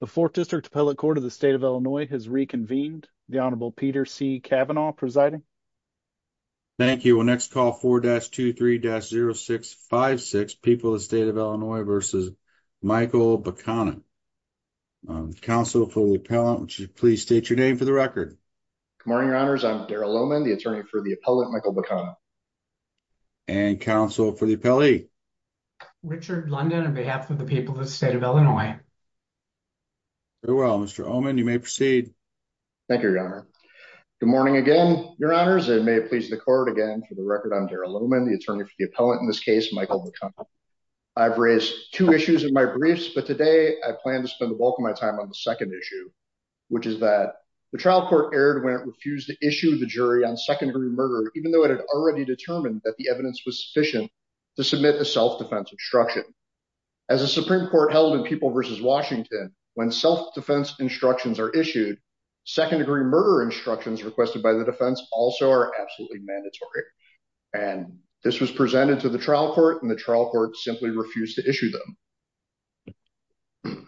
The 4th District Appellate Court of the State of Illinois has reconvened. The Honorable Peter C. Kavanaugh presiding. Thank you. We'll next call 4-23-0656, People of the State of Illinois v. Michael Bakana. Counsel for the appellant, would you please state your name for the record? Good morning, your honors. I'm Darrell Lohman, the attorney for the appellant Michael Bakana. And counsel for the appellee? Richard London on behalf of the people of the State of Illinois. Very well, Mr. Oman, you may proceed. Thank you, your honor. Good morning again, your honors. And may it please the court, again, for the record, I'm Darrell Lohman, the attorney for the appellant in this case, Michael Bakana. I've raised two issues in my briefs, but today I plan to spend the bulk of my time on the second issue, which is that the trial court erred when it refused to issue the jury on second degree murder, even though it had already determined that the evidence was sufficient to submit a self-defense instruction. As a Supreme Court held in People v. Washington, when self-defense instructions are issued, second degree murder instructions requested by the defense also are absolutely mandatory. And this was presented to the trial court, and the trial court simply refused to issue them.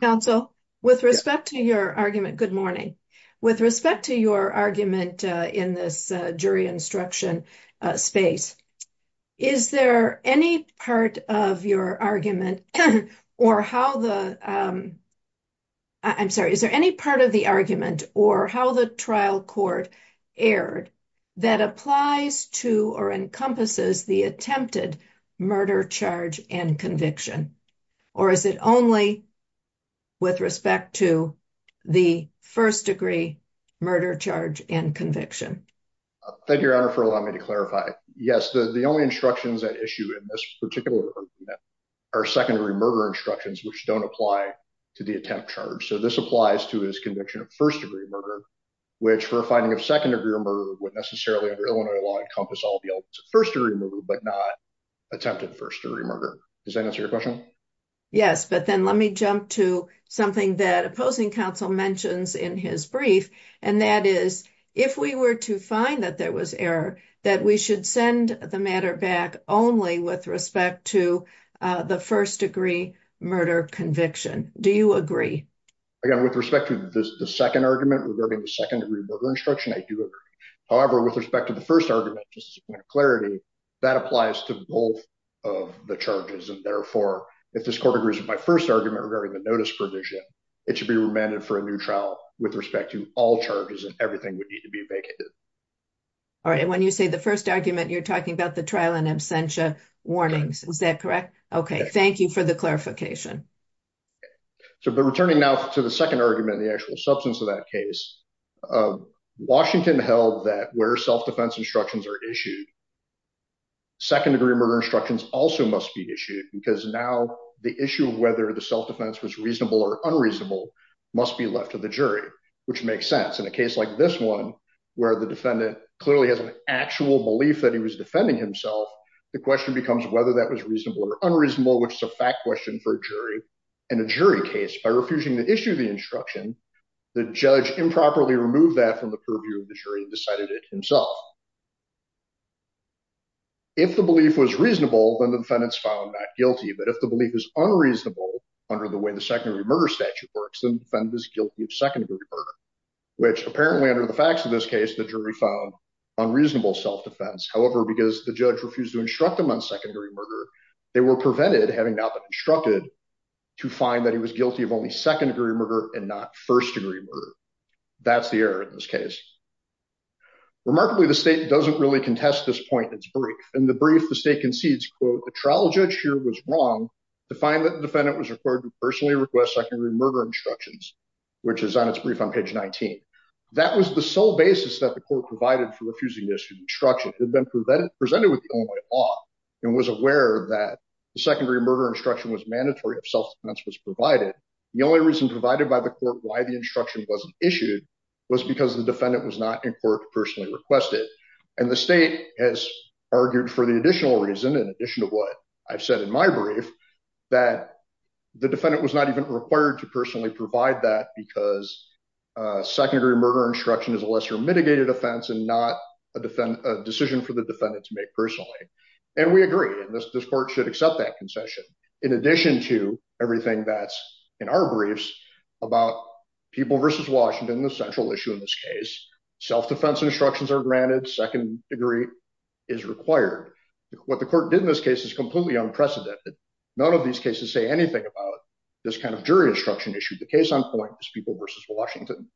Counsel, with respect to your argument, good morning. With respect to your argument in this jury instruction space, is there any part of your argument or how the, I'm sorry, is there any part of the argument or how the trial court erred that applies to or encompasses the attempted murder charge and conviction? Or is it only with respect to the first degree murder charge and conviction? Thank you, Your Honor, for allowing me to clarify. Yes, the only instructions that issue in this particular argument are second degree murder instructions, which don't apply to the attempt charge. So this applies to his conviction of first degree murder, which for a finding of second degree murder would necessarily under Illinois law encompass all the elements of first degree murder, but not attempted first degree murder. Does that answer your question? Yes, but then let me jump to something that opposing counsel mentions in his brief. And that is, if we were to find that there was error, that we should send the matter back only with respect to the first degree murder conviction. Do you agree? Again, with respect to the second argument regarding the second degree murder instruction, I do agree. However, with respect to the first argument, just as a point of clarity, that applies to both of the charges. And therefore, if this court agrees with my first argument regarding the notice provision, it should be remanded for a new trial with respect to all charges and everything would need to be vacated. All right. And when you say the first argument, you're talking about the trial and absentia warnings. Is that correct? Okay. Thank you for the clarification. So but returning now to the second argument, the actual substance of that case, Washington held that where self defense instructions are issued, second degree murder instructions also must be issued because now the issue of whether the self defense was reasonable or unreasonable must be left to the jury, which makes sense in a case like this one, where the defendant clearly has an actual belief that he was defending himself. The question becomes whether that was reasonable or unreasonable, which is a fact question for a jury and a jury case by refusing to issue the instruction. The judge improperly removed that from the purview of the jury and decided it himself. If the belief was reasonable, then the defendants found that guilty. But if the belief is unreasonable under the way the secondary murder statute works, then the defendant is guilty of second degree murder, which apparently under the facts of this case, the jury found unreasonable self defense. However, because the judge refused to instruct them on secondary murder, they were prevented having not been instructed to find that he was guilty of only second degree murder and not first degree murder. That's the error in this case. Remarkably, the second argument is not doesn't really contest this point in its brief. In the brief, the state concedes, quote, the trial judge here was wrong to find that the defendant was required to personally request secondary murder instructions, which is on its brief on page 19. That was the sole basis that the court provided for refusing this instruction had been presented with the law and was aware that the secondary murder instruction was mandatory if self defense was provided. The only reason provided by the court why the instruction wasn't issued was because the state has argued for the additional reason, in addition to what I've said in my brief, that the defendant was not even required to personally provide that because secondary murder instruction is a lesser mitigated offense and not a decision for the defendant to make personally. And we agree that this court should accept that concession. In addition to everything that's in our briefs about people versus Washington, the central issue in this case, self defense instructions are granted second degree is required. What the court did in this case is completely unprecedented. None of these cases say anything about this kind of jury instruction issued the case on point is people versus Washington.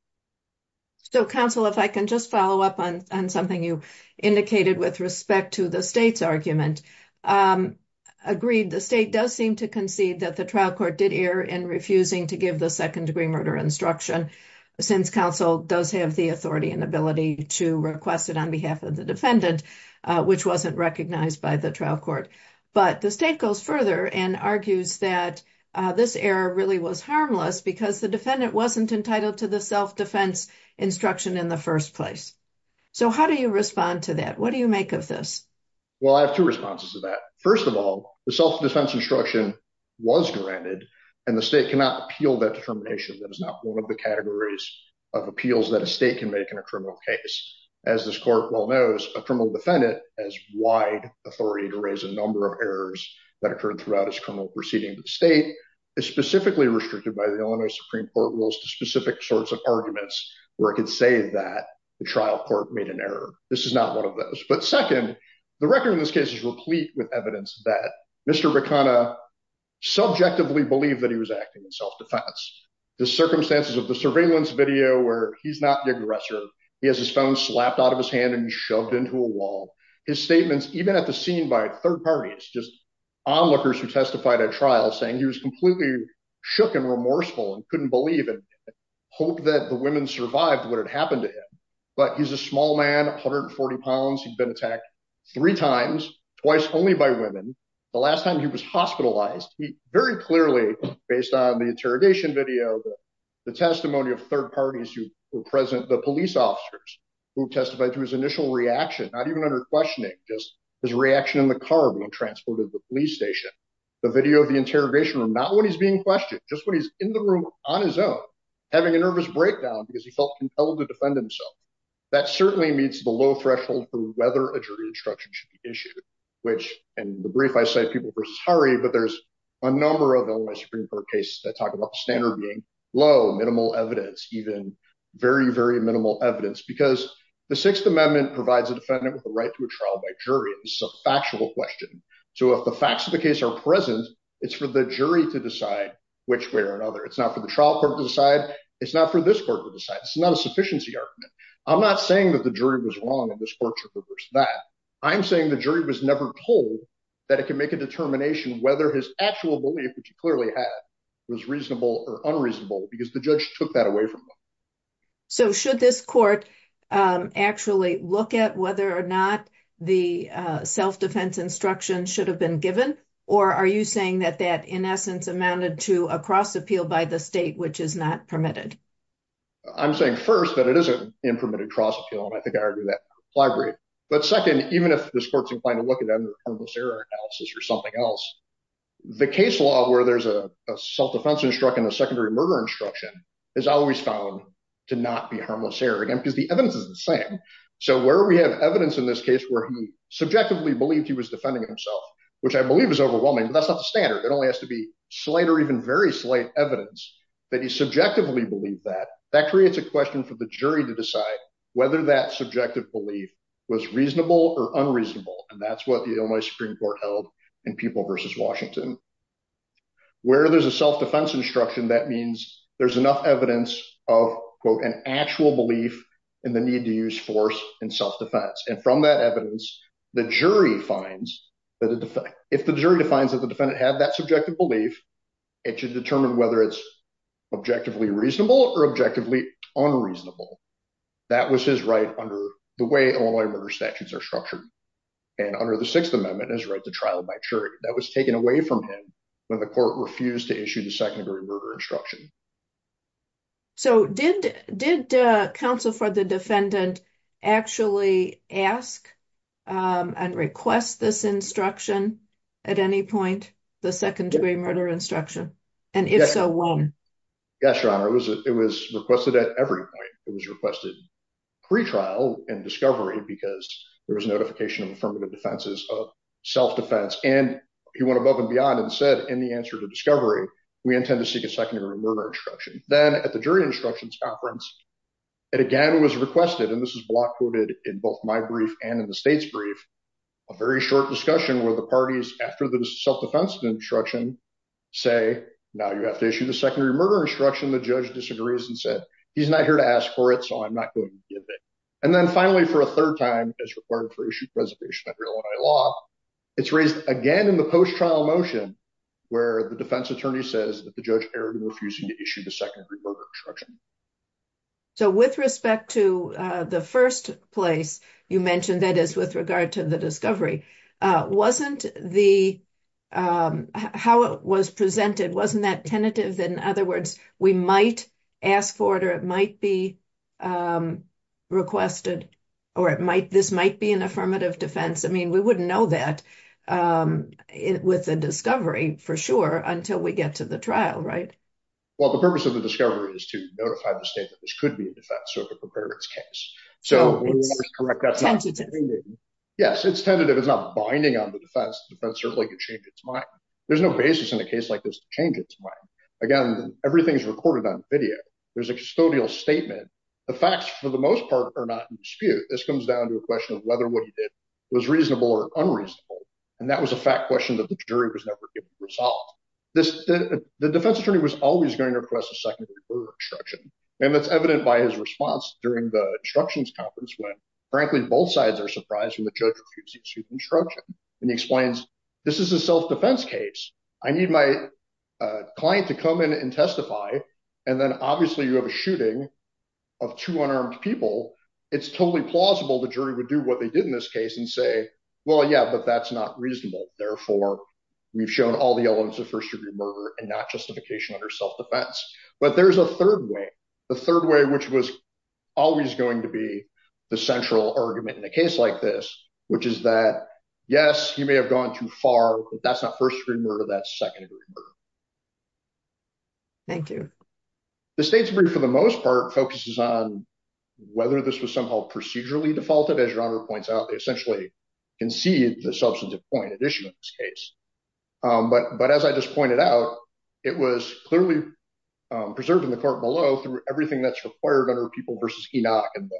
So counsel, if I can just follow up on something you indicated with respect to the state's argument, agreed, the state does seem to concede that the trial court did air and refusing to give the secondary murder instruction, since counsel does have the authority and ability to request it on behalf of the defendant, which wasn't recognized by the trial court. But the state goes further and argues that this error really was harmless because the defendant wasn't entitled to the self defense instruction in the first place. So how do you respond to that? What do you make of this? Well, I have two responses to that. First of all, the self defense instruction was granted, and the state cannot appeal that determination. That is not one of the categories of appeals that a state can make in a criminal case. As this court well knows, a criminal defendant has wide authority to raise a number of errors that occurred throughout his criminal proceeding. The state is specifically restricted by the Illinois Supreme Court rules to specific sorts of arguments where it could say that the trial court made an error. This is not one of those. But second, the record in this case is replete with evidence that Mr. Bikana subjectively believed that he was acting in self defense. The circumstances of the surveillance video where he's not the aggressor, he has his phone slapped out of his hand and shoved into a wall. His statements even at the scene by third parties, just onlookers who testified at trial saying he was completely shook and remorseful and couldn't believe and hope that the women survived what happened to him. But he's a small man, 140 pounds, he'd been attacked three times, twice only by women. The last time he was hospitalized, he very clearly based on the interrogation video, the testimony of third parties who were present, the police officers who testified to his initial reaction, not even under questioning, just his reaction in the car being transported to the police station. The video of the interrogation room, not when he's being questioned, just when he's in the room on his own, having a nervous breakdown because he felt compelled to defend himself. That certainly meets the low threshold for whether a jury instruction should be issued, which in the brief, I say people versus hurry. But there's a number of Supreme Court cases that talk about the standard being low, minimal evidence, even very, very minimal evidence, because the Sixth Amendment provides a defendant with the right to a trial by jury. It's a factual question. So if the facts of the case are present, it's for the jury to decide which way or another. It's not for the trial court to decide. It's not for this court to decide. It's not a sufficiency argument. I'm not saying that the jury was wrong and this court should reverse that. I'm saying the jury was never told that it can make a determination whether his actual belief, which he clearly had, was reasonable or unreasonable, because the judge took that away from them. So should this court actually look at whether or not the self-defense instruction should have been given? Or are you saying that that, in essence, amounted to a cross-appeal by the state, which is not permitted? I'm saying, first, that it is a impermitted cross-appeal, and I think I argue that in the reply brief. But second, even if this court's inclined to look at it under a harmless error analysis or something else, the case law where there's a self-defense instruction and a secondary murder instruction is always found to not be harmless error, again, because the evidence is the same. So where we have evidence in this case where he subjectively believed he was defending himself, which I believe is overwhelming, that's not the standard. It only has to be slight or even very slight evidence that he subjectively believed that. That creates a question for the jury to decide whether that subjective belief was reasonable or unreasonable, and that's what the Illinois Supreme Court held in People v. Washington. Where there's a self-defense instruction, that means there's enough evidence of, quote, an actual belief in the need to use force and self-defense. And from that evidence, the jury finds that if the jury defines that the defendant had that subjective belief, it should determine whether it's objectively reasonable or objectively unreasonable. That was his right under the way Illinois murder statutes are structured. And under the Sixth Amendment, his right to trial by jury, that was taken away from him when the court refused to issue the second-degree murder instruction. So did counsel for the defendant actually ask and request this instruction at any point, the second-degree murder instruction? And if so, when? Yes, Your Honor. It was requested at every point. It was requested pre-trial and discovery because there was notification from the defenses of self-defense. And he went above and beyond and said, in the answer to discovery, we intend to seek a second-degree murder instruction. Then at the jury instructions conference, it again was requested, and this is block quoted in both my brief and in the state's brief, a very short discussion where the parties, after the self-defense instruction, say, now you have to issue the second-degree murder instruction. The judge disagrees and said, he's not here to ask for it, so I'm not going to give it. And then finally, for a third time, it's required for issue of reservation under Illinois law. It's raised again in the post-trial motion where the defense attorney says that the judge erred in refusing to issue the second-degree murder instruction. So with respect to the first place you mentioned, that is with regard to the discovery, wasn't the, how it was presented, wasn't that tentative that, in other words, we might ask for it, or it might be requested, or it might, this might be an affirmative defense? I mean, we wouldn't know that with the discovery for sure until we get to the trial, right? Well, the purpose of the discovery is to notify the state that this could be a defense, so it could prepare its case. So- So it's tentative. Yes, it's tentative. It's not binding on the defense. The defense certainly could change its mind. There's no basis in a case like this to change its mind. Again, everything's recorded on video. There's a custodial statement. The facts, for the most part, are not in dispute. This comes down to a question of whether what he did was reasonable or unreasonable, and that was a fact question that the jury was never given a result. The defense attorney was always going to request a second-degree murder instruction, and that's evident by his response during the instructions conference when, frankly, both sides are surprised when the judge refuses to issue the instruction. And he explains, this is a self-defense case. I need my client to come in and testify. And then, obviously, you have a shooting of two unarmed people. It's totally plausible the jury would do what they did in this case and say, well, yeah, but that's not reasonable. Therefore, we've shown all the elements of first-degree murder and not justification under self-defense. But there's a third way, the third way which was always going to be the central argument in a case like this, which is that, yes, he may have gone too far, but that's not first-degree murder, that's second-degree murder. Thank you. The state's brief, for the most part, focuses on whether this was somehow procedurally defaulted. As Your Honor points out, they essentially concede the substantive point at issue in this case. But as I just pointed out, it was clearly preserved in the court below through everything that's required under People v. Enoch and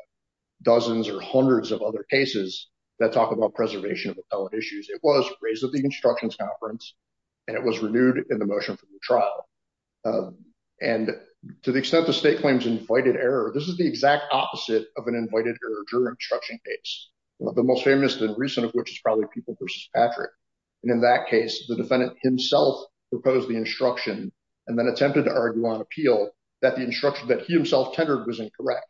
dozens or hundreds of other cases that talk about preservation of appellate issues. It was raised at the Instructions Conference, and it was renewed in the motion for the trial. And to the extent the state claims invoided error, this is the exact opposite of an invoided error jury instruction case, the most famous and recent of which is probably People v. Patrick. And in that case, the defendant himself proposed the instruction and then attempted to argue on appeal that the instruction that he himself tendered was incorrect.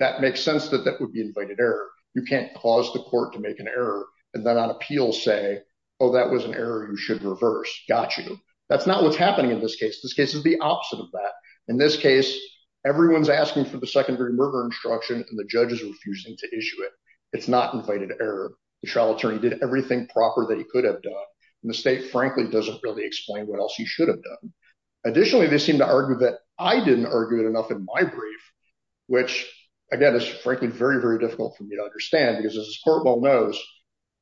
That makes sense that that would be invited error. You can't cause the court to make an error and then on appeal say, oh, that was an error you should reverse. Got you. That's not what's happening in this case. This case is the opposite of that. In this case, everyone's asking for the secondary murder instruction, and the judge is refusing to issue it. It's not invited error. The trial attorney did everything proper that he could have done, and the state, frankly, doesn't really explain what else he should have done. Additionally, they seem to argue that I didn't argue it enough in my brief, which, again, is, frankly, very, very difficult for me to understand because, as this court well knows,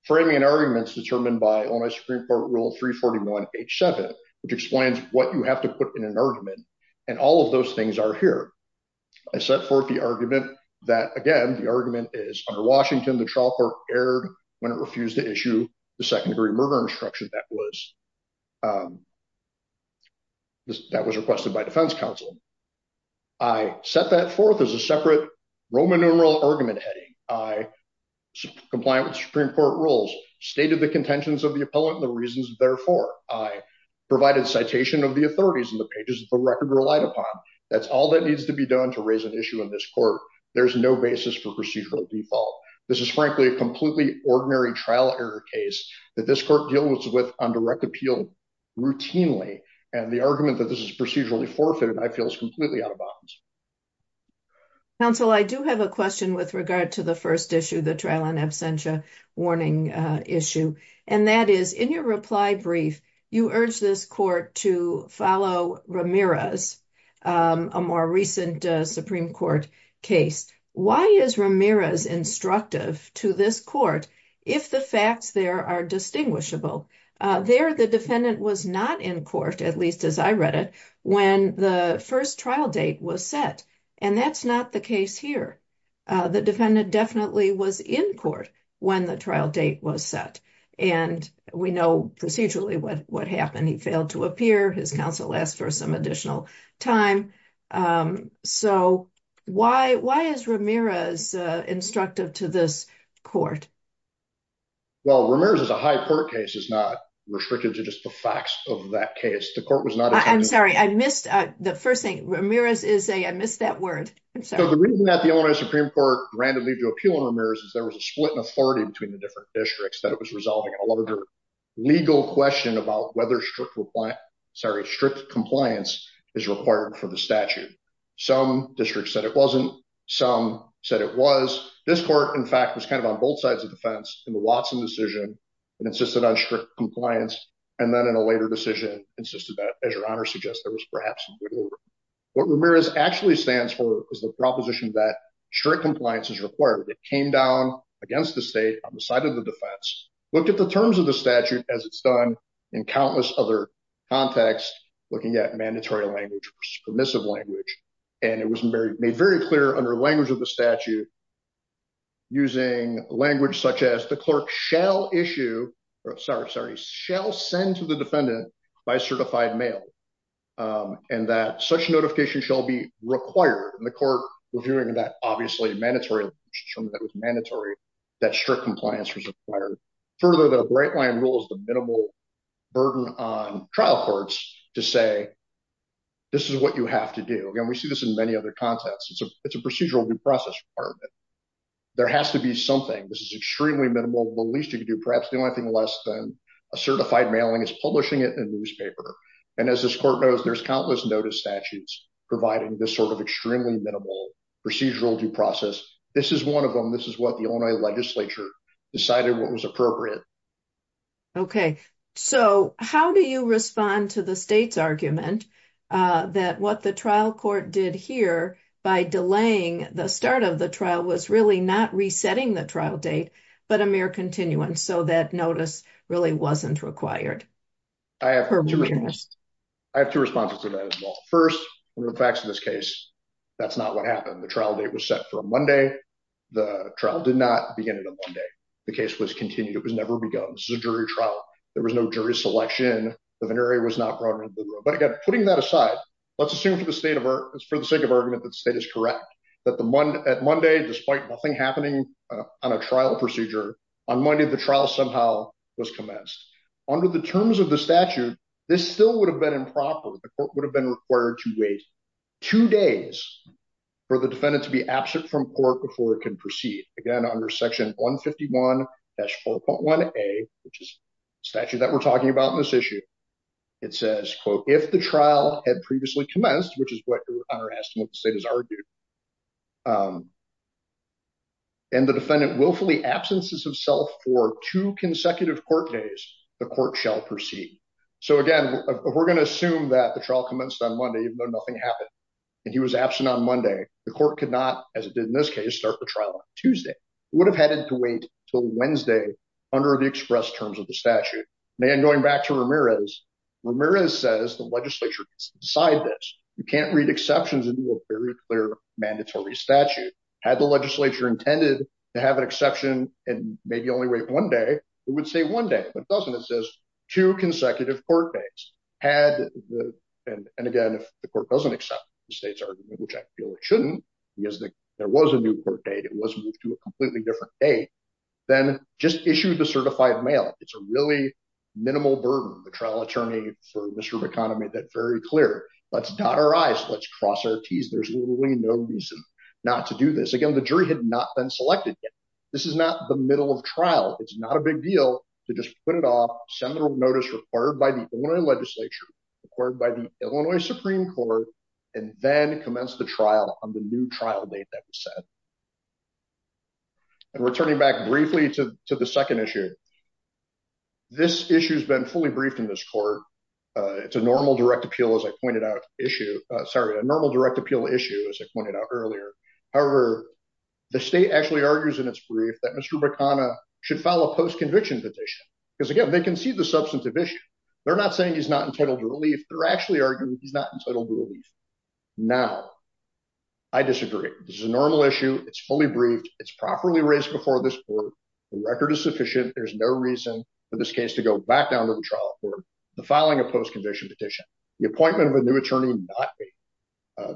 framing an argument is determined by Illinois Supreme Court Rule 341-H7, which explains what you have to put in an argument, and all of those things are here. I set forth the argument that, again, the argument is under Washington. The murder instruction that was requested by defense counsel. I set that forth as a separate Roman numeral argument heading. I compliant with Supreme Court rules, stated the contentions of the appellant and the reasons therefore. I provided citation of the authorities in the pages of the record relied upon. That's all that needs to be done to raise an issue in this court. There's no basis for procedural default. This is, frankly, a completely ordinary trial error case that this court deals with on direct appeal routinely, and the argument that this is procedurally forfeited, I feel, is completely out of bounds. Counsel, I do have a question with regard to the first issue, the trial on absentia warning issue, and that is, in your reply brief, you urged this court to follow Ramirez, a more recent Supreme Court case. Why is Ramirez instructive to this court if the facts there are distinguishable? There, the defendant was not in court, at least as I read it, when the first trial date was set, and that's not the case here. The defendant definitely was in court when the trial date was set, and we know procedurally what happened. He failed to appear. His counsel asked for some additional time, so why is Ramirez instructive to this court? Well, Ramirez is a high court case. It's not restricted to just the facts of that case. The court was not... I'm sorry, I missed the first thing. Ramirez is a... I missed that word. I'm sorry. So the reason that the Illinois Supreme Court randomly to appeal on Ramirez is there was a split in authority between the different districts that it was resolving a larger legal question about whether strict compliance is required for the statute. Some districts said it wasn't. Some said it was. This court, in fact, was kind of on both sides of the fence in the Watson decision and insisted on strict compliance, and then in a later decision insisted that, as your Honor suggests, there was perhaps some wiggle room. What Ramirez actually stands for is the proposition that strict compliance is required. It came down against the state on the side of the defense, looked at the terms of the statute as it's done in countless other contexts, looking at mandatory language versus permissive language, and it was made very clear under the language of the statute using language such as the clerk shall issue... Sorry, shall send to the defendant by certified mail, and that such notification shall be required, and the court was doing that, obviously, mandatory. It was mandatory that strict compliance was required. Further, the bright line rule is the minimal burden on trial courts to say this is what you have to do. Again, we see this in many other contexts. It's a procedural due process requirement. There has to be something. This is extremely minimal. The least you can do, perhaps the only thing less than a certified mailing is publishing it in a newspaper, and as this court knows, there's countless notice statutes providing this sort of extremely minimal procedural due process. This is one of them. This is what the Illinois legislature decided what was appropriate. Okay, so how do you respond to the state's argument that what the trial court did here by delaying the start of the trial was really not resetting the trial date, but a mere continuance so that notice really wasn't required? I have two responses to that as well. First, one of the facts of this case, that's not what happened. The trial date was set for Monday. The trial did not begin on Monday. The case was continued. It was never begun. This is a jury trial. There was no jury selection. The venereal was not brought into the room, but again, putting that aside, let's assume for the sake of argument that state is correct, that at Monday, despite nothing happening on a trial procedure, on Monday, the trial somehow was commenced. Under the terms of the statute, this still would have been improper. The court would have been required to wait two days for the defendant to be absent from court before it can proceed. Again, under section 151-4.1A, which is the statute that we're talking about in this issue, it says, quote, if the trial had previously commenced, which is what Hunter asked and what the state has argued, and the defendant willfully absences himself for two consecutive court days, the court shall proceed. Again, we're going to assume that the trial commenced on Monday, even though nothing happened, and he was absent on Monday. The court could not, as it did in this case, start the trial on Tuesday. It would have had to wait until Wednesday under the express terms of the statute. Then going back to Ramirez, Ramirez says the legislature has to decide this. You can't read exceptions into a very clear mandatory statute. Had the legislature intended to have an exception and maybe only wait one day, it would say one day, but it doesn't. It says two consecutive court days. And again, if the court doesn't accept the state's argument, which I feel it shouldn't, because there was a new court date, it was moved to a completely different date, then just issue the certified mail. It's a really minimal burden, the trial attorney for Mr. McConaughey made that very clear. Let's dot our I's, let's cross our T's. There's literally no reason not to do this. Again, the jury had not been selected yet. This is not the middle of trial. It's not a big deal to just put it off, send the notice required by the Illinois legislature, required by the Illinois Supreme Court, and then commence the trial on the new trial date that was set. And returning back briefly to the second issue, this issue has been fully briefed in this court. It's a normal direct appeal, as I pointed out, issue, sorry, a normal direct appeal issue, as I pointed out earlier. However, the state actually argues in its brief that Mr. McConaughey should file a post-conviction petition, because again, they concede the substantive issue. They're not saying he's not entitled to relief. They're actually arguing he's not entitled to relief. Now, I disagree. This is a normal issue. It's fully briefed. It's properly raised before this court. The record is sufficient. There's no reason for this case to go back down to the trial court. The filing of post-conviction petition, the appointment of a new attorney, not a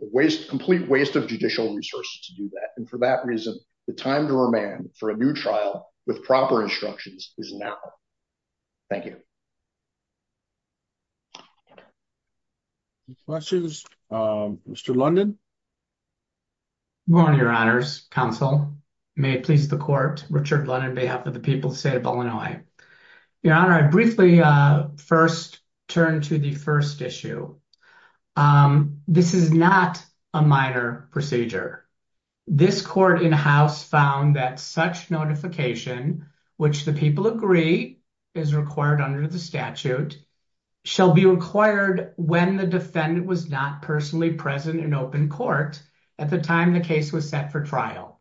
waste, complete waste of judicial resources to do that. And for that reason, the time to remand for a new trial with proper instructions is now. Thank you. Any questions? Mr. London. Good morning, your honors, counsel. May it please the court, Richard London on behalf of the people of the state of Illinois. Your honor, I briefly first turn to the first issue. This is not a minor procedure. This court in house found that such notification, which the people agree is required under the statute, shall be required when the defendant was not personally present in open court at the time the case was set for trial.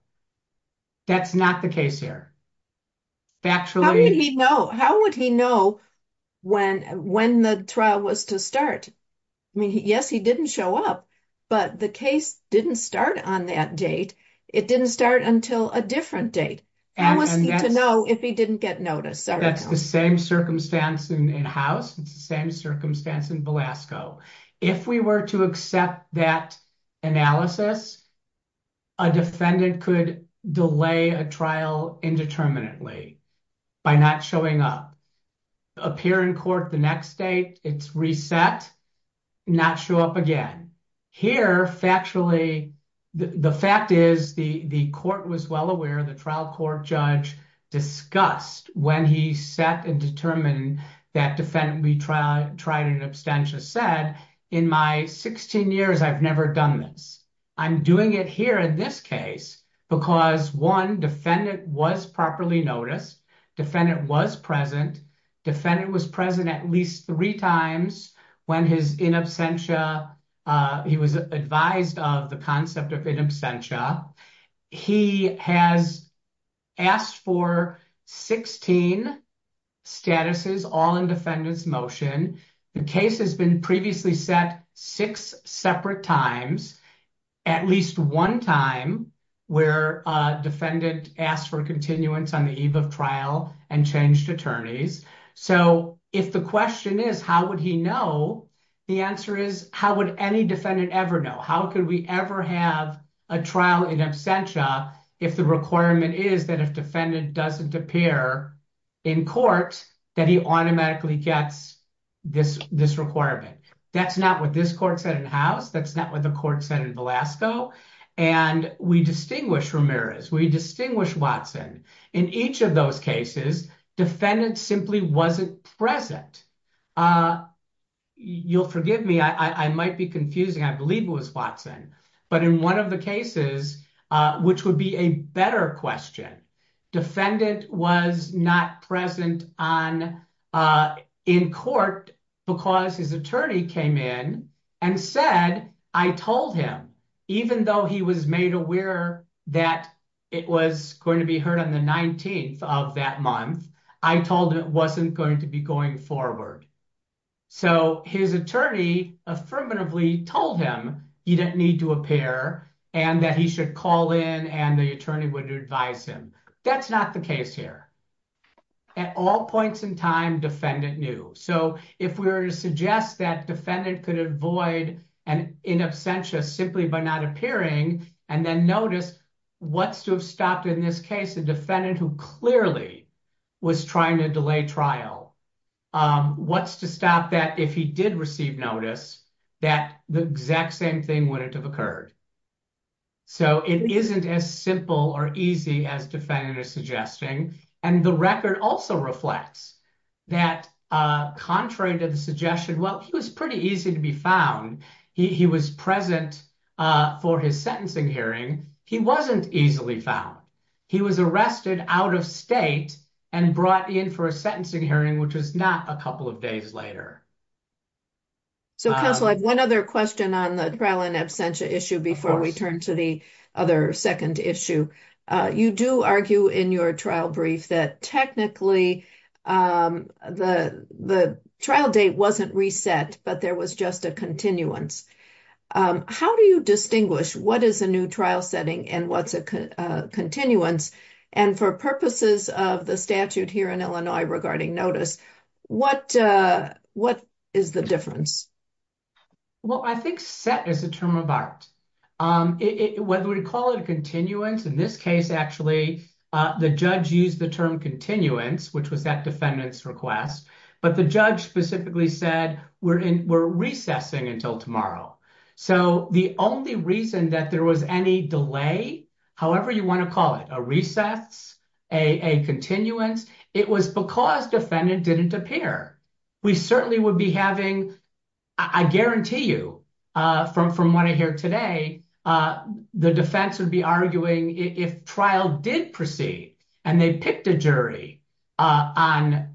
That's not the case here. Factually. How would he know when the trial was to start? I mean, yes, he didn't show up, but the case didn't start on that date. It didn't start until a different date. How was he to know if he didn't get notice? That's the same circumstance in house. It's the same circumstance in Belasco. If we were to accept that analysis, a defendant could delay a trial indeterminately by not showing up. Appear in court the next day, it's reset, not show up again. Here, factually, the fact is the court was well aware, the trial court judge discussed when he set and determined that defendant retried an abstentious set. In my 16 years, I've never done this. I'm doing it here in this case because one, defendant was properly noticed, defendant was present, defendant was present at least three times when his in absentia, he was advised of the concept of in absentia. He has asked for 16 statuses, all in defendant's motion. The case has been previously set six separate times, at least one time where defendant asked for continuance on the eve of trial and changed attorneys. If the question is, how would he know? The answer is, how would any defendant ever know? How could we ever have a trial in absentia if the requirement is that if defendant doesn't appear in court, that he automatically gets this requirement? That's not what this court said in House, that's not what the court said in Velasco. We distinguish Ramirez, we distinguish Watson. In each of those cases, defendant simply wasn't present. You'll forgive me, I might be confusing, I believe it was Watson. In one of the cases, which would be a better question, defendant was not present in court because his attorney came in and said, I told him, even though he was made aware that it was going to be heard on the 19th of that month, I told him it wasn't going to be going forward. His attorney affirmatively told him he didn't need to appear and that he should call in and the attorney would advise him. That's not the case here. At all points in time, defendant knew. If we were to suggest that defendant could avoid an in absentia simply by not appearing and then notice, what's to have stopped in this case a defendant who clearly was trying to delay trial? What's to stop that if he did receive notice that the exact same thing wouldn't have occurred? It isn't as simple or easy as defendant is suggesting. The record also reflects that contrary to the suggestion, he was pretty easy to be found. He was present for his sentencing hearing. He wasn't easily found. He was arrested out of state and brought in for a sentencing hearing, which was not a couple of days later. Counsel, I have one other question on the trial in absentia issue before we turn to the other second issue. You do argue in your trial brief that technically the trial date wasn't reset, but there was just a continuance. How do you distinguish what is a new trial setting and what's a continuance? For purposes of the statute here in Illinois regarding notice, what is the difference? Well, I think set is a term of art. Whether we call it a continuance, in this case, actually, the judge used the term continuance, which was that defendant's request, but the judge specifically said we're recessing until tomorrow. The only reason that there was any delay, however you want to call it, a recess, a continuance, it was because defendant didn't appear. We certainly would be having, I guarantee you from what I hear today, the defense would be arguing if trial did proceed and they picked a jury on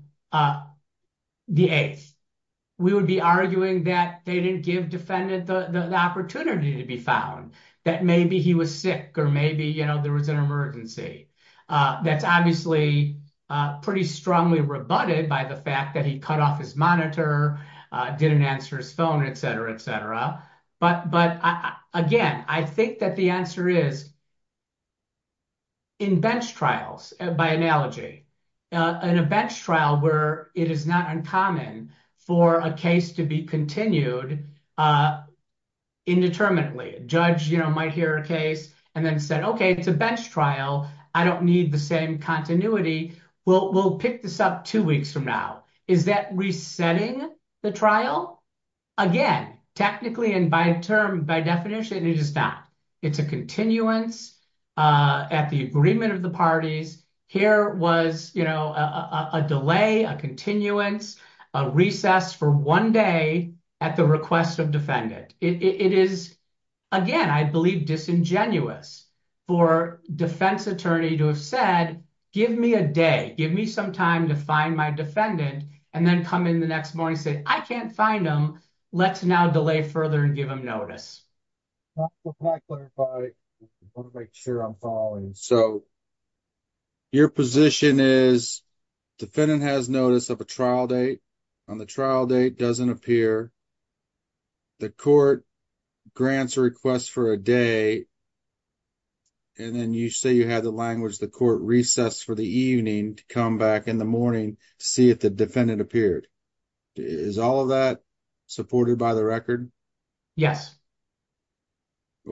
the 8th, we would be arguing that they defended the opportunity to be found, that maybe he was sick or maybe there was an emergency. That's obviously pretty strongly rebutted by the fact that he cut off his monitor, didn't answer his phone, et cetera, et cetera. But again, I think that the answer is in bench trials, by analogy, in a bench trial where it is not uncommon for a case to be continued indeterminately. A judge might hear a case and then said, okay, it's a bench trial, I don't need the same continuity, we'll pick this up two weeks from now. Is that resetting the trial? Again, technically and by definition, it is not. It's a continuance at the agreement of the parties. Here was a delay, a continuance, a recess for one day at the request of defendant. It is, again, I believe disingenuous for defense attorney to have said, give me a day, give me some time to find my defendant, and then come in the next morning and say, I can't find him, let's now delay further and give him notice. I want to make sure I'm following. Your position is defendant has notice of a trial date, on the trial date doesn't appear, the court grants a request for a day, and then you say you had the language the court recessed for the evening to come back in the morning to see if the defendant appeared. Is all of that supported by the record? Yes.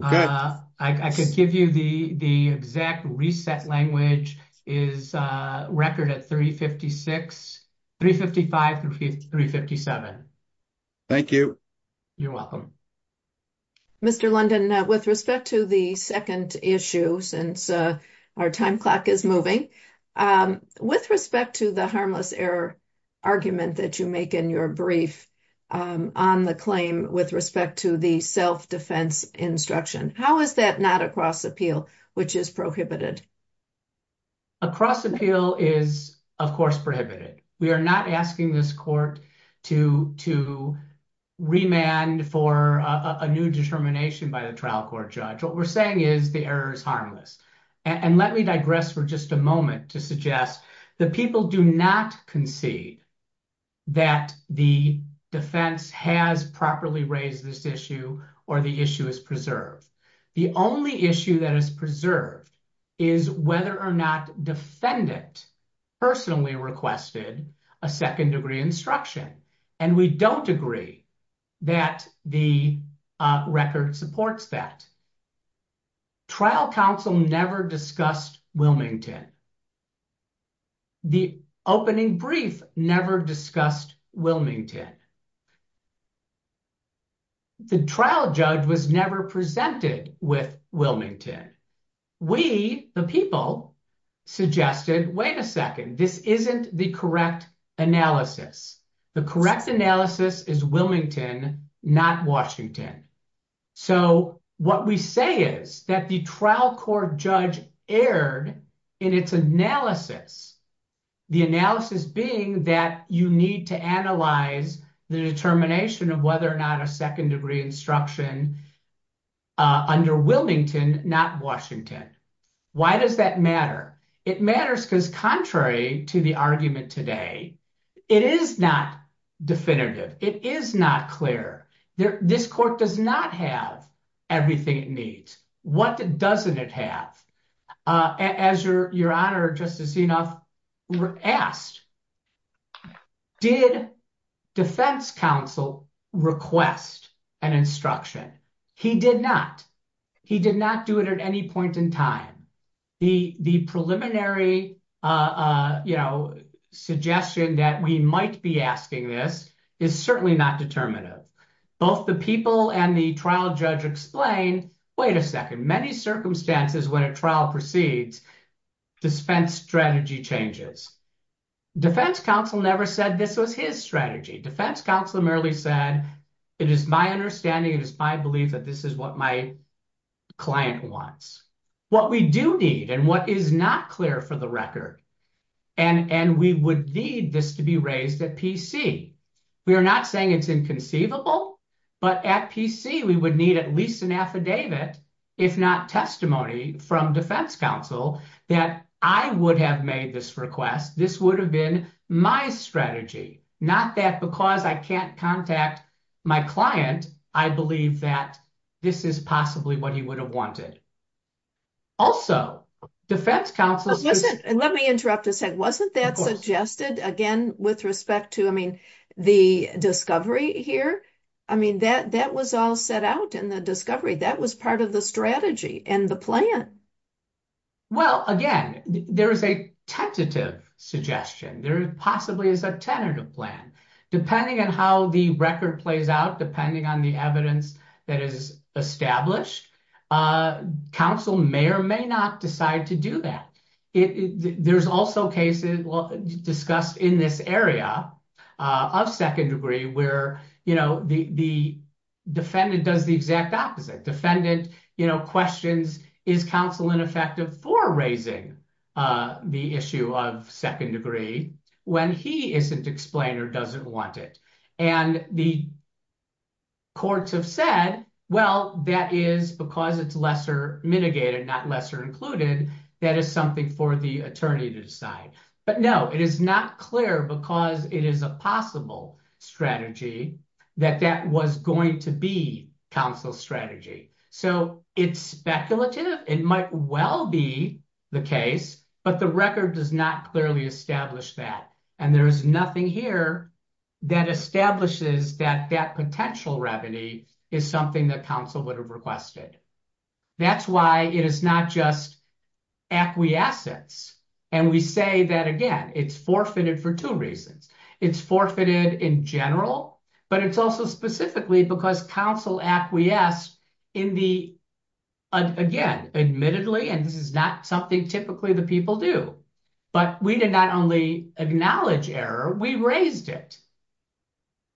I can give you the exact reset language is record at 356, 355 through 357. Thank you. You're welcome. Mr. London, with respect to the second issue, since our time clock is moving, with respect to the harmless error argument that you make in your brief on the claim with respect to the self-defense instruction, how is that not a cross appeal, which is prohibited? A cross appeal is, of course, prohibited. We are not asking this court to remand for a new determination by the trial court judge. What we're saying is the error is harmless. Let me digress for just a moment to suggest that people do not concede that the defense has properly raised this issue or the issue is preserved. The only issue that is preserved is whether or not defendant personally requested a second degree instruction. We don't agree that the record supports that. Trial counsel never discussed Wilmington. The opening brief never discussed Wilmington. The trial judge was never presented with Wilmington. We, the people, suggested, wait a second, this isn't the correct analysis. The correct analysis is Wilmington, not Washington. What we say is that the trial court judge erred in its analysis, the analysis being that you need to analyze the determination of whether or not a second degree instruction under Wilmington, not Washington. Why does that matter? It matters because, contrary to the argument today, it is not definitive. It is not clear. This court does not have everything it needs. What doesn't it have? Your Honor, just as enough, we're asked, did defense counsel request an instruction? He did not. He did not do it at any point in time. The preliminary suggestion that we might be asking this is certainly not determinative. Both the people and the trial judge explain, wait a second, many circumstances when a trial proceeds, defense strategy changes. Defense counsel never said this was his strategy. Defense counsel merely said, it is my understanding, it is my belief that this is what my client wants. What we do need and what is not clear for the record, and we would need this to be raised at PC. We are not saying it's inconceivable, but at PC, we would need at least an affidavit, if not testimony from defense counsel, that I would have made this request. This would have been my strategy. Not that because I can't contact my client, I believe that this is possibly what he would have wanted. Also, defense counsel- Let me interrupt a sec. Wasn't that suggested, again, with respect to the discovery here? That was all set out in the discovery. That was part of the strategy and the plan. Well, again, there is a tentative suggestion. There possibly is a tentative plan. Depending on how the record plays out, depending on the evidence that is established, counsel may or may not decide to do that. There's also cases discussed in this area of second degree where the defendant does the exact opposite. Defendant questions, is counsel ineffective for raising the issue of second degree when he isn't explained or doesn't want it? The courts have said, well, that is because it's lesser mitigated, not lesser included. That is something for the attorney to decide. But no, it is not clear because it is a possible strategy that that was going to be counsel's strategy. It's speculative. It might well be the case, but the record does not clearly establish that. There is nothing here that establishes that that potential remedy is something that counsel would have requested. That's why it is not just acquiescence. And we say that, again, it's forfeited for two reasons. It's forfeited in general, but it's also specifically because counsel acquiesced in the, again, admittedly, and this is not something typically the people do, but we did not only acknowledge error, we raised it.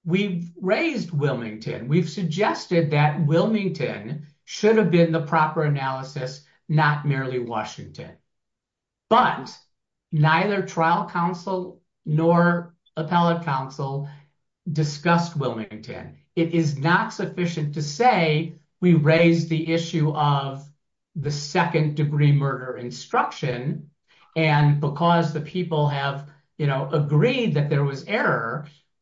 We raised Wilmington. We've suggested that Wilmington should have been the proper analysis, not merely Washington. But neither trial counsel nor appellate counsel discussed Wilmington. It is not sufficient to say we raised the issue of the second degree murder instruction. And because the people have, you know, agreed that there was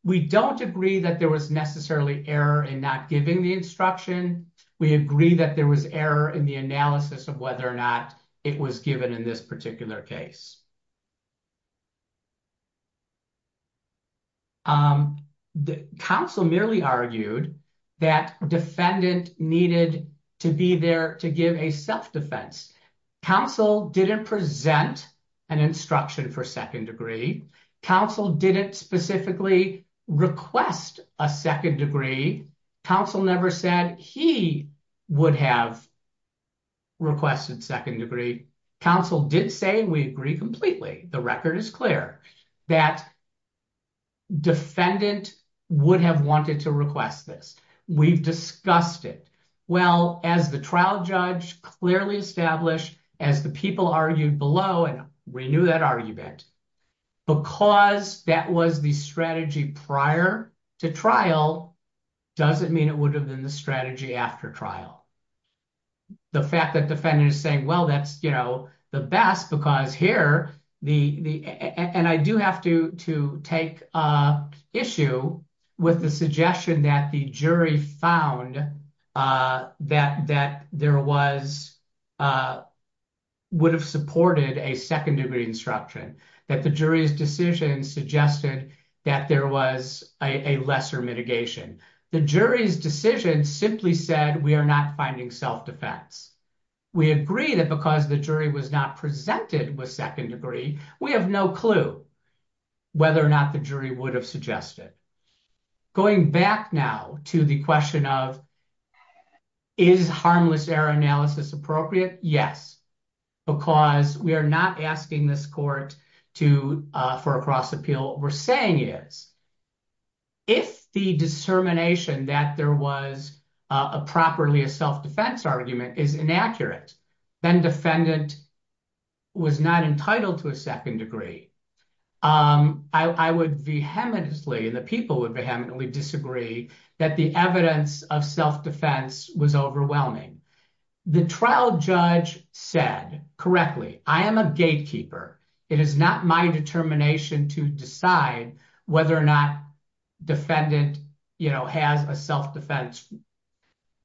We don't agree that there was necessarily error in not giving the instruction. We agree that there was error in the analysis of whether or not it was given in this particular case. The counsel merely argued that defendant needed to be there to give a self-defense. Counsel didn't present an instruction for second degree. Counsel didn't specifically request a second degree. Counsel never said he would have requested second degree. Counsel did say we agree completely. The record is clear that defendant would have wanted to request this. We've discussed it. Well, as the trial judge clearly established, as the people argued below, and we knew that argument, because that was the strategy prior to trial doesn't mean it would have been the strategy after trial. The fact that defendant is saying, well, that's, you know, the best because here, and I do have to take issue with the suggestion that the jury found that there was, would have supported a second degree instruction, that the jury's decision suggested that there was a lesser mitigation. The jury's decision simply said we are not finding self-defense. We agree that because the jury was not presented with second degree, we have no clue whether or not the jury would have suggested. Going back now to the question of is harmless error analysis appropriate? Yes, because we are not asking this court to, for a cross appeal. We're saying is if the discernment that there was a properly a self-defense argument is inaccurate, then defendant was not entitled to a second degree. I would vehemently, and the people would vehemently disagree that the evidence of self-defense was overwhelming. The trial judge said correctly, I am a gatekeeper. It is not my determination to decide whether or not defendant, you know, has a self-defense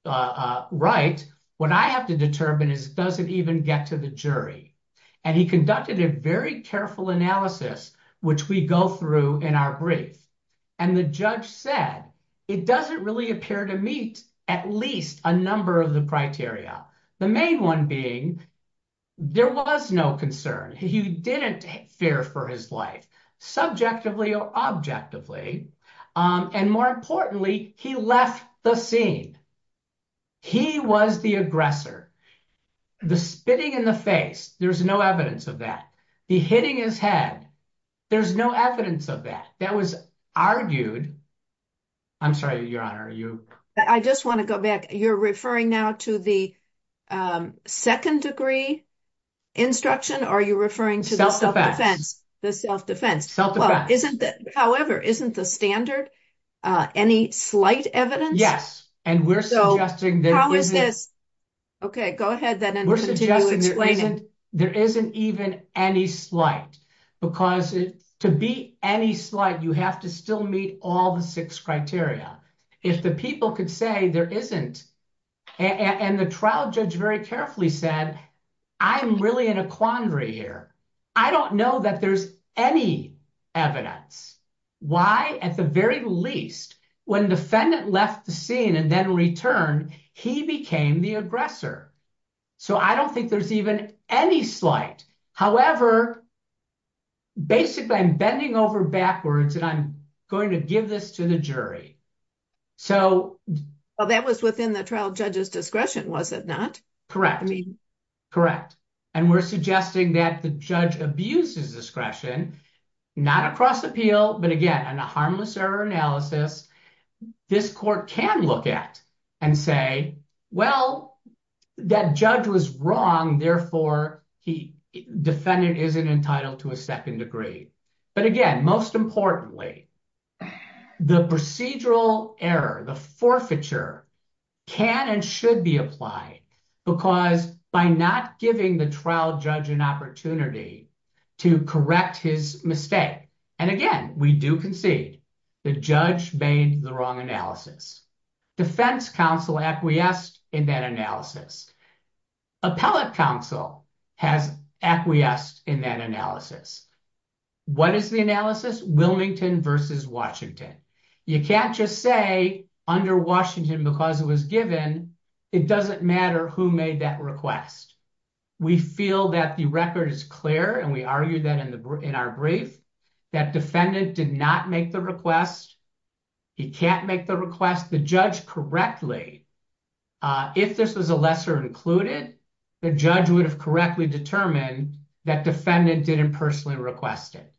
right. What I have to determine is does it even get to the jury? And he conducted a very careful analysis, which we go through in our brief. And the judge said it doesn't really appear to meet at least a number of the criteria. The main one being there was no concern. He didn't fear for his life subjectively or objectively. And more importantly, he left the scene. He was the aggressor. The spitting in the face, there's no evidence of that. The hitting his head, there's no evidence of that. That was argued. I'm sorry, Your Honor. I just want to go back. You're referring now to the second degree instruction, or are you referring to the self-defense? The self-defense. However, isn't the standard any slight evidence? Yes. And we're suggesting that- How is this? Okay, go ahead then and continue explaining. There isn't even any slight, because to be any slight, you have to still meet all the six criteria. If the people could say there isn't, and the trial judge very carefully said, I'm really in a quandary here. I don't know that there's any evidence. Why? At the very least, when defendant left the scene and then returned, he became the aggressor. So I don't think there's any slight. However, basically, I'm bending over backwards and I'm going to give this to the jury. Well, that was within the trial judge's discretion, was it not? Correct. Correct. And we're suggesting that the judge abuses discretion, not across appeal, but again, in a harmless error analysis, this court can look at and say, well, that judge was wrong. Therefore, defendant isn't entitled to a second degree. But again, most importantly, the procedural error, the forfeiture can and should be applied because by not giving the trial judge an opportunity to correct his mistake. And again, we do concede the judge made the wrong analysis. Defense counsel acquiesced in that analysis. Appellate counsel has acquiesced in that analysis. What is the analysis? Wilmington versus Washington. You can't just say under Washington, because it was given, it doesn't matter who made that request. We feel that the record is clear and we argue that in our brief, that defendant did not make the request. He can't make the request. The judge correctly, if this was a lesser included, the judge would have correctly determined that defendant didn't personally request it.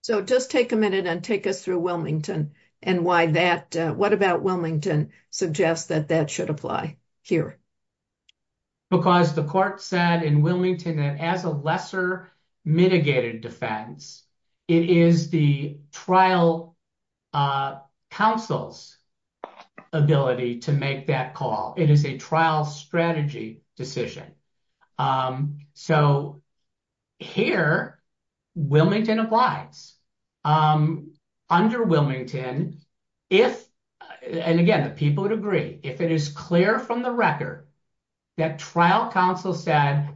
So just take a minute and take us through Wilmington and why that, what about Wilmington suggests that that should apply here? Because the court said in Wilmington that as a lesser mitigated defense, it is the trial counsel's ability to make that call. It is a trial strategy decision. So here, Wilmington applies. Under Wilmington, if, and again, the people would agree, if it is clear from the record that trial counsel said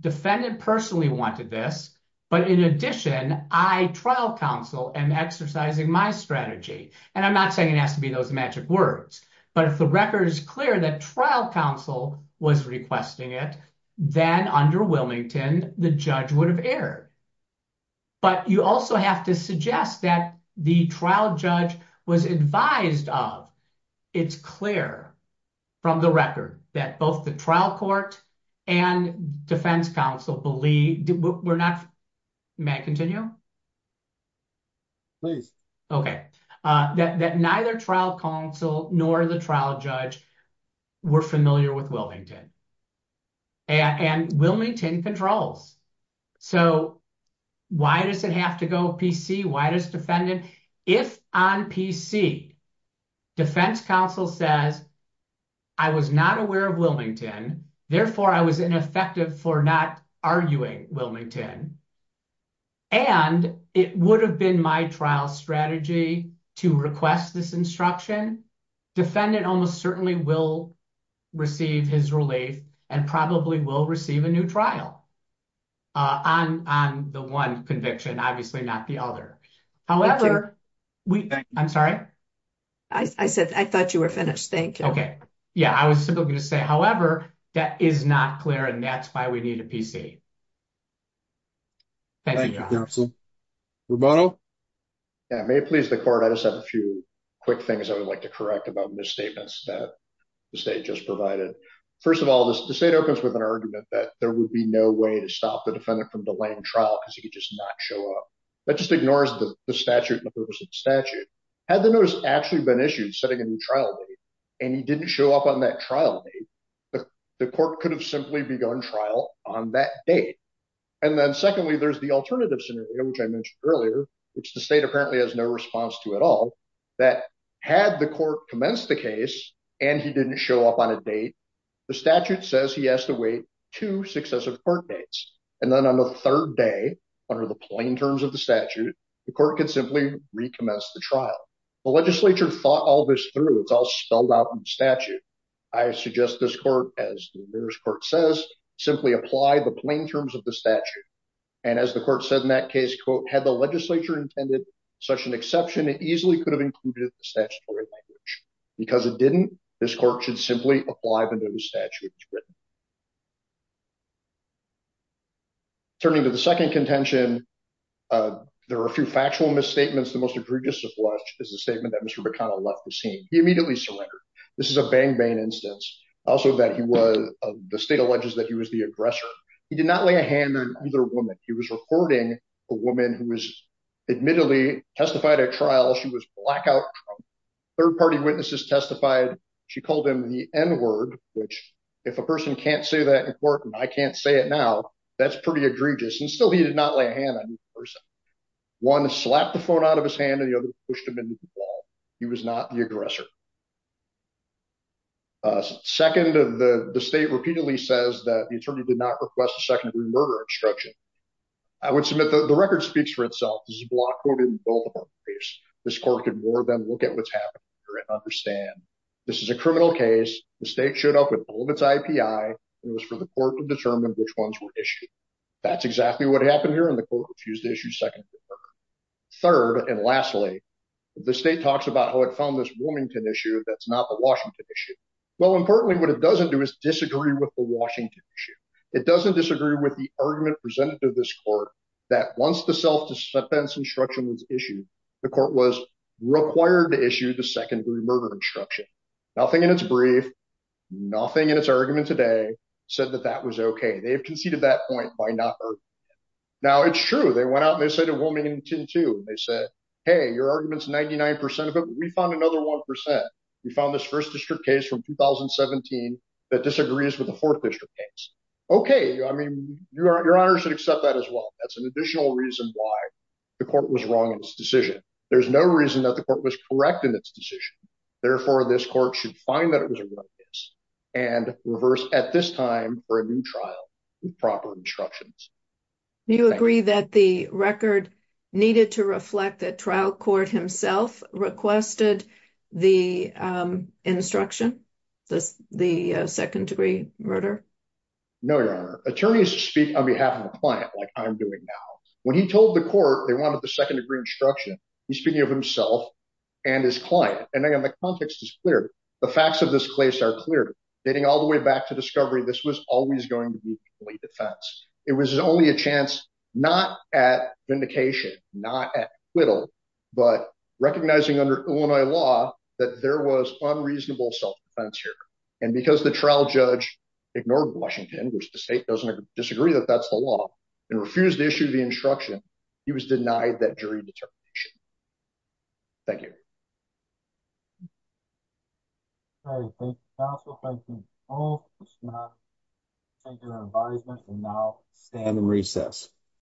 defendant personally wanted this, but in addition, I, trial counsel, am exercising my strategy. And I'm not saying it has to be those words, but if the record is clear that trial counsel was requesting it, then under Wilmington, the judge would have erred. But you also have to suggest that the trial judge was advised of, it's clear from the record that both the trial court and defense counsel believe we're not, may I continue? Please. Okay. That neither trial counsel nor the trial judge were familiar with Wilmington and Wilmington controls. So why does it have to go PC? Why does defendant, if on PC defense counsel says, I was not aware of Wilmington, therefore I was ineffective for not arguing Wilmington. And it would have been my trial strategy to request this instruction. Defendant almost certainly will receive his relief and probably will receive a new trial on the one conviction, obviously not the other. However, I'm sorry. I said, I thought you were finished. Thank you. Okay. Yeah. I was simply going to say, however, that is not clear. And that's why we need a PC. Thank you, counsel. Rubano. Yeah. May it please the court. I just have a few quick things I would like to correct about misstatements that the state just provided. First of all, the state opens with an argument that there would be no way to stop the defendant from delaying trial because he could just not show up. That just ignores the statute, had the notice actually been issued setting a new trial date and he didn't show up on that trial that the court could have simply begun trial on that date. And then secondly, there's the alternative scenario, which I mentioned earlier, which the state apparently has no response to at all that had the court commenced the case and he didn't show up on a date. The statute says he has to wait two successive court dates. And then on the third day, under the plain terms of the statute, the court could simply recommence the trial. The legislature thought all this through. It's all about the statute. I suggest this court, as the nearest court says, simply apply the plain terms of the statute. And as the court said in that case, quote, had the legislature intended such an exception, it easily could have included the statutory language because it didn't. This court should simply apply the new statute. Turning to the second contention, there are a few factual misstatements. The most egregious of which is the statement that Mr. McConnell left the scene. He immediately surrendered. This is a bang-bang instance. Also that he was, the state alleges that he was the aggressor. He did not lay a hand on either woman. He was reporting a woman who was admittedly testified at trial. She was blackout drunk. Third party witnesses testified. She called him the N-word, which if a person can't say that in court and I can't say it now, that's pretty egregious. And still he did not lay a hand on the person. One slapped the phone out of his hand and the other pushed him into the wall. He was not the aggressor. Second, the state repeatedly says that the attorney did not request a secondary murder instruction. I would submit the record speaks for itself. This is a block quoted in both of our briefs. This court could more than look at what's happening here and understand this is a criminal case. The state showed up with all of its IPI and it was for the murder. Third, and lastly, the state talks about how it found this Wilmington issue that's not the Washington issue. Well, importantly, what it doesn't do is disagree with the Washington issue. It doesn't disagree with the argument presented to this court that once the self-defense instruction was issued, the court was required to issue the secondary murder instruction. Nothing in its brief, nothing in its argument today said that that was okay. They have conceded that point by not arguing it. Now, it's true. They went out and they said to Wilmington too. They said, hey, your argument's 99% of it. We found another 1%. We found this first district case from 2017 that disagrees with the fourth district case. Okay. I mean, your honor should accept that as well. That's an additional reason why the court was wrong in its decision. There's no reason that the court was correct in its decision. Therefore, this court should find that it was a good case and reverse at this time for a new trial with proper instructions. You agree that the record needed to reflect that trial court himself requested the instruction, the second degree murder? No, your honor. Attorneys speak on behalf of the client, like I'm doing now. When he told the court they wanted the second degree instruction, he's speaking of himself and his client. And again, the context is clear. The facts of this case are clear. Dating all the way back to discovery, this was always going to be fully defense. It was only a chance, not at vindication, not at acquittal, but recognizing under Illinois law that there was unreasonable self-defense here. And because the trial judge ignored Washington, which the state doesn't disagree that that's the law, and refused to instruction, he was denied that jury determination. Thank you. All right. Thank you, counsel. Thank you all. Thank you for your advisement and now stand in recess.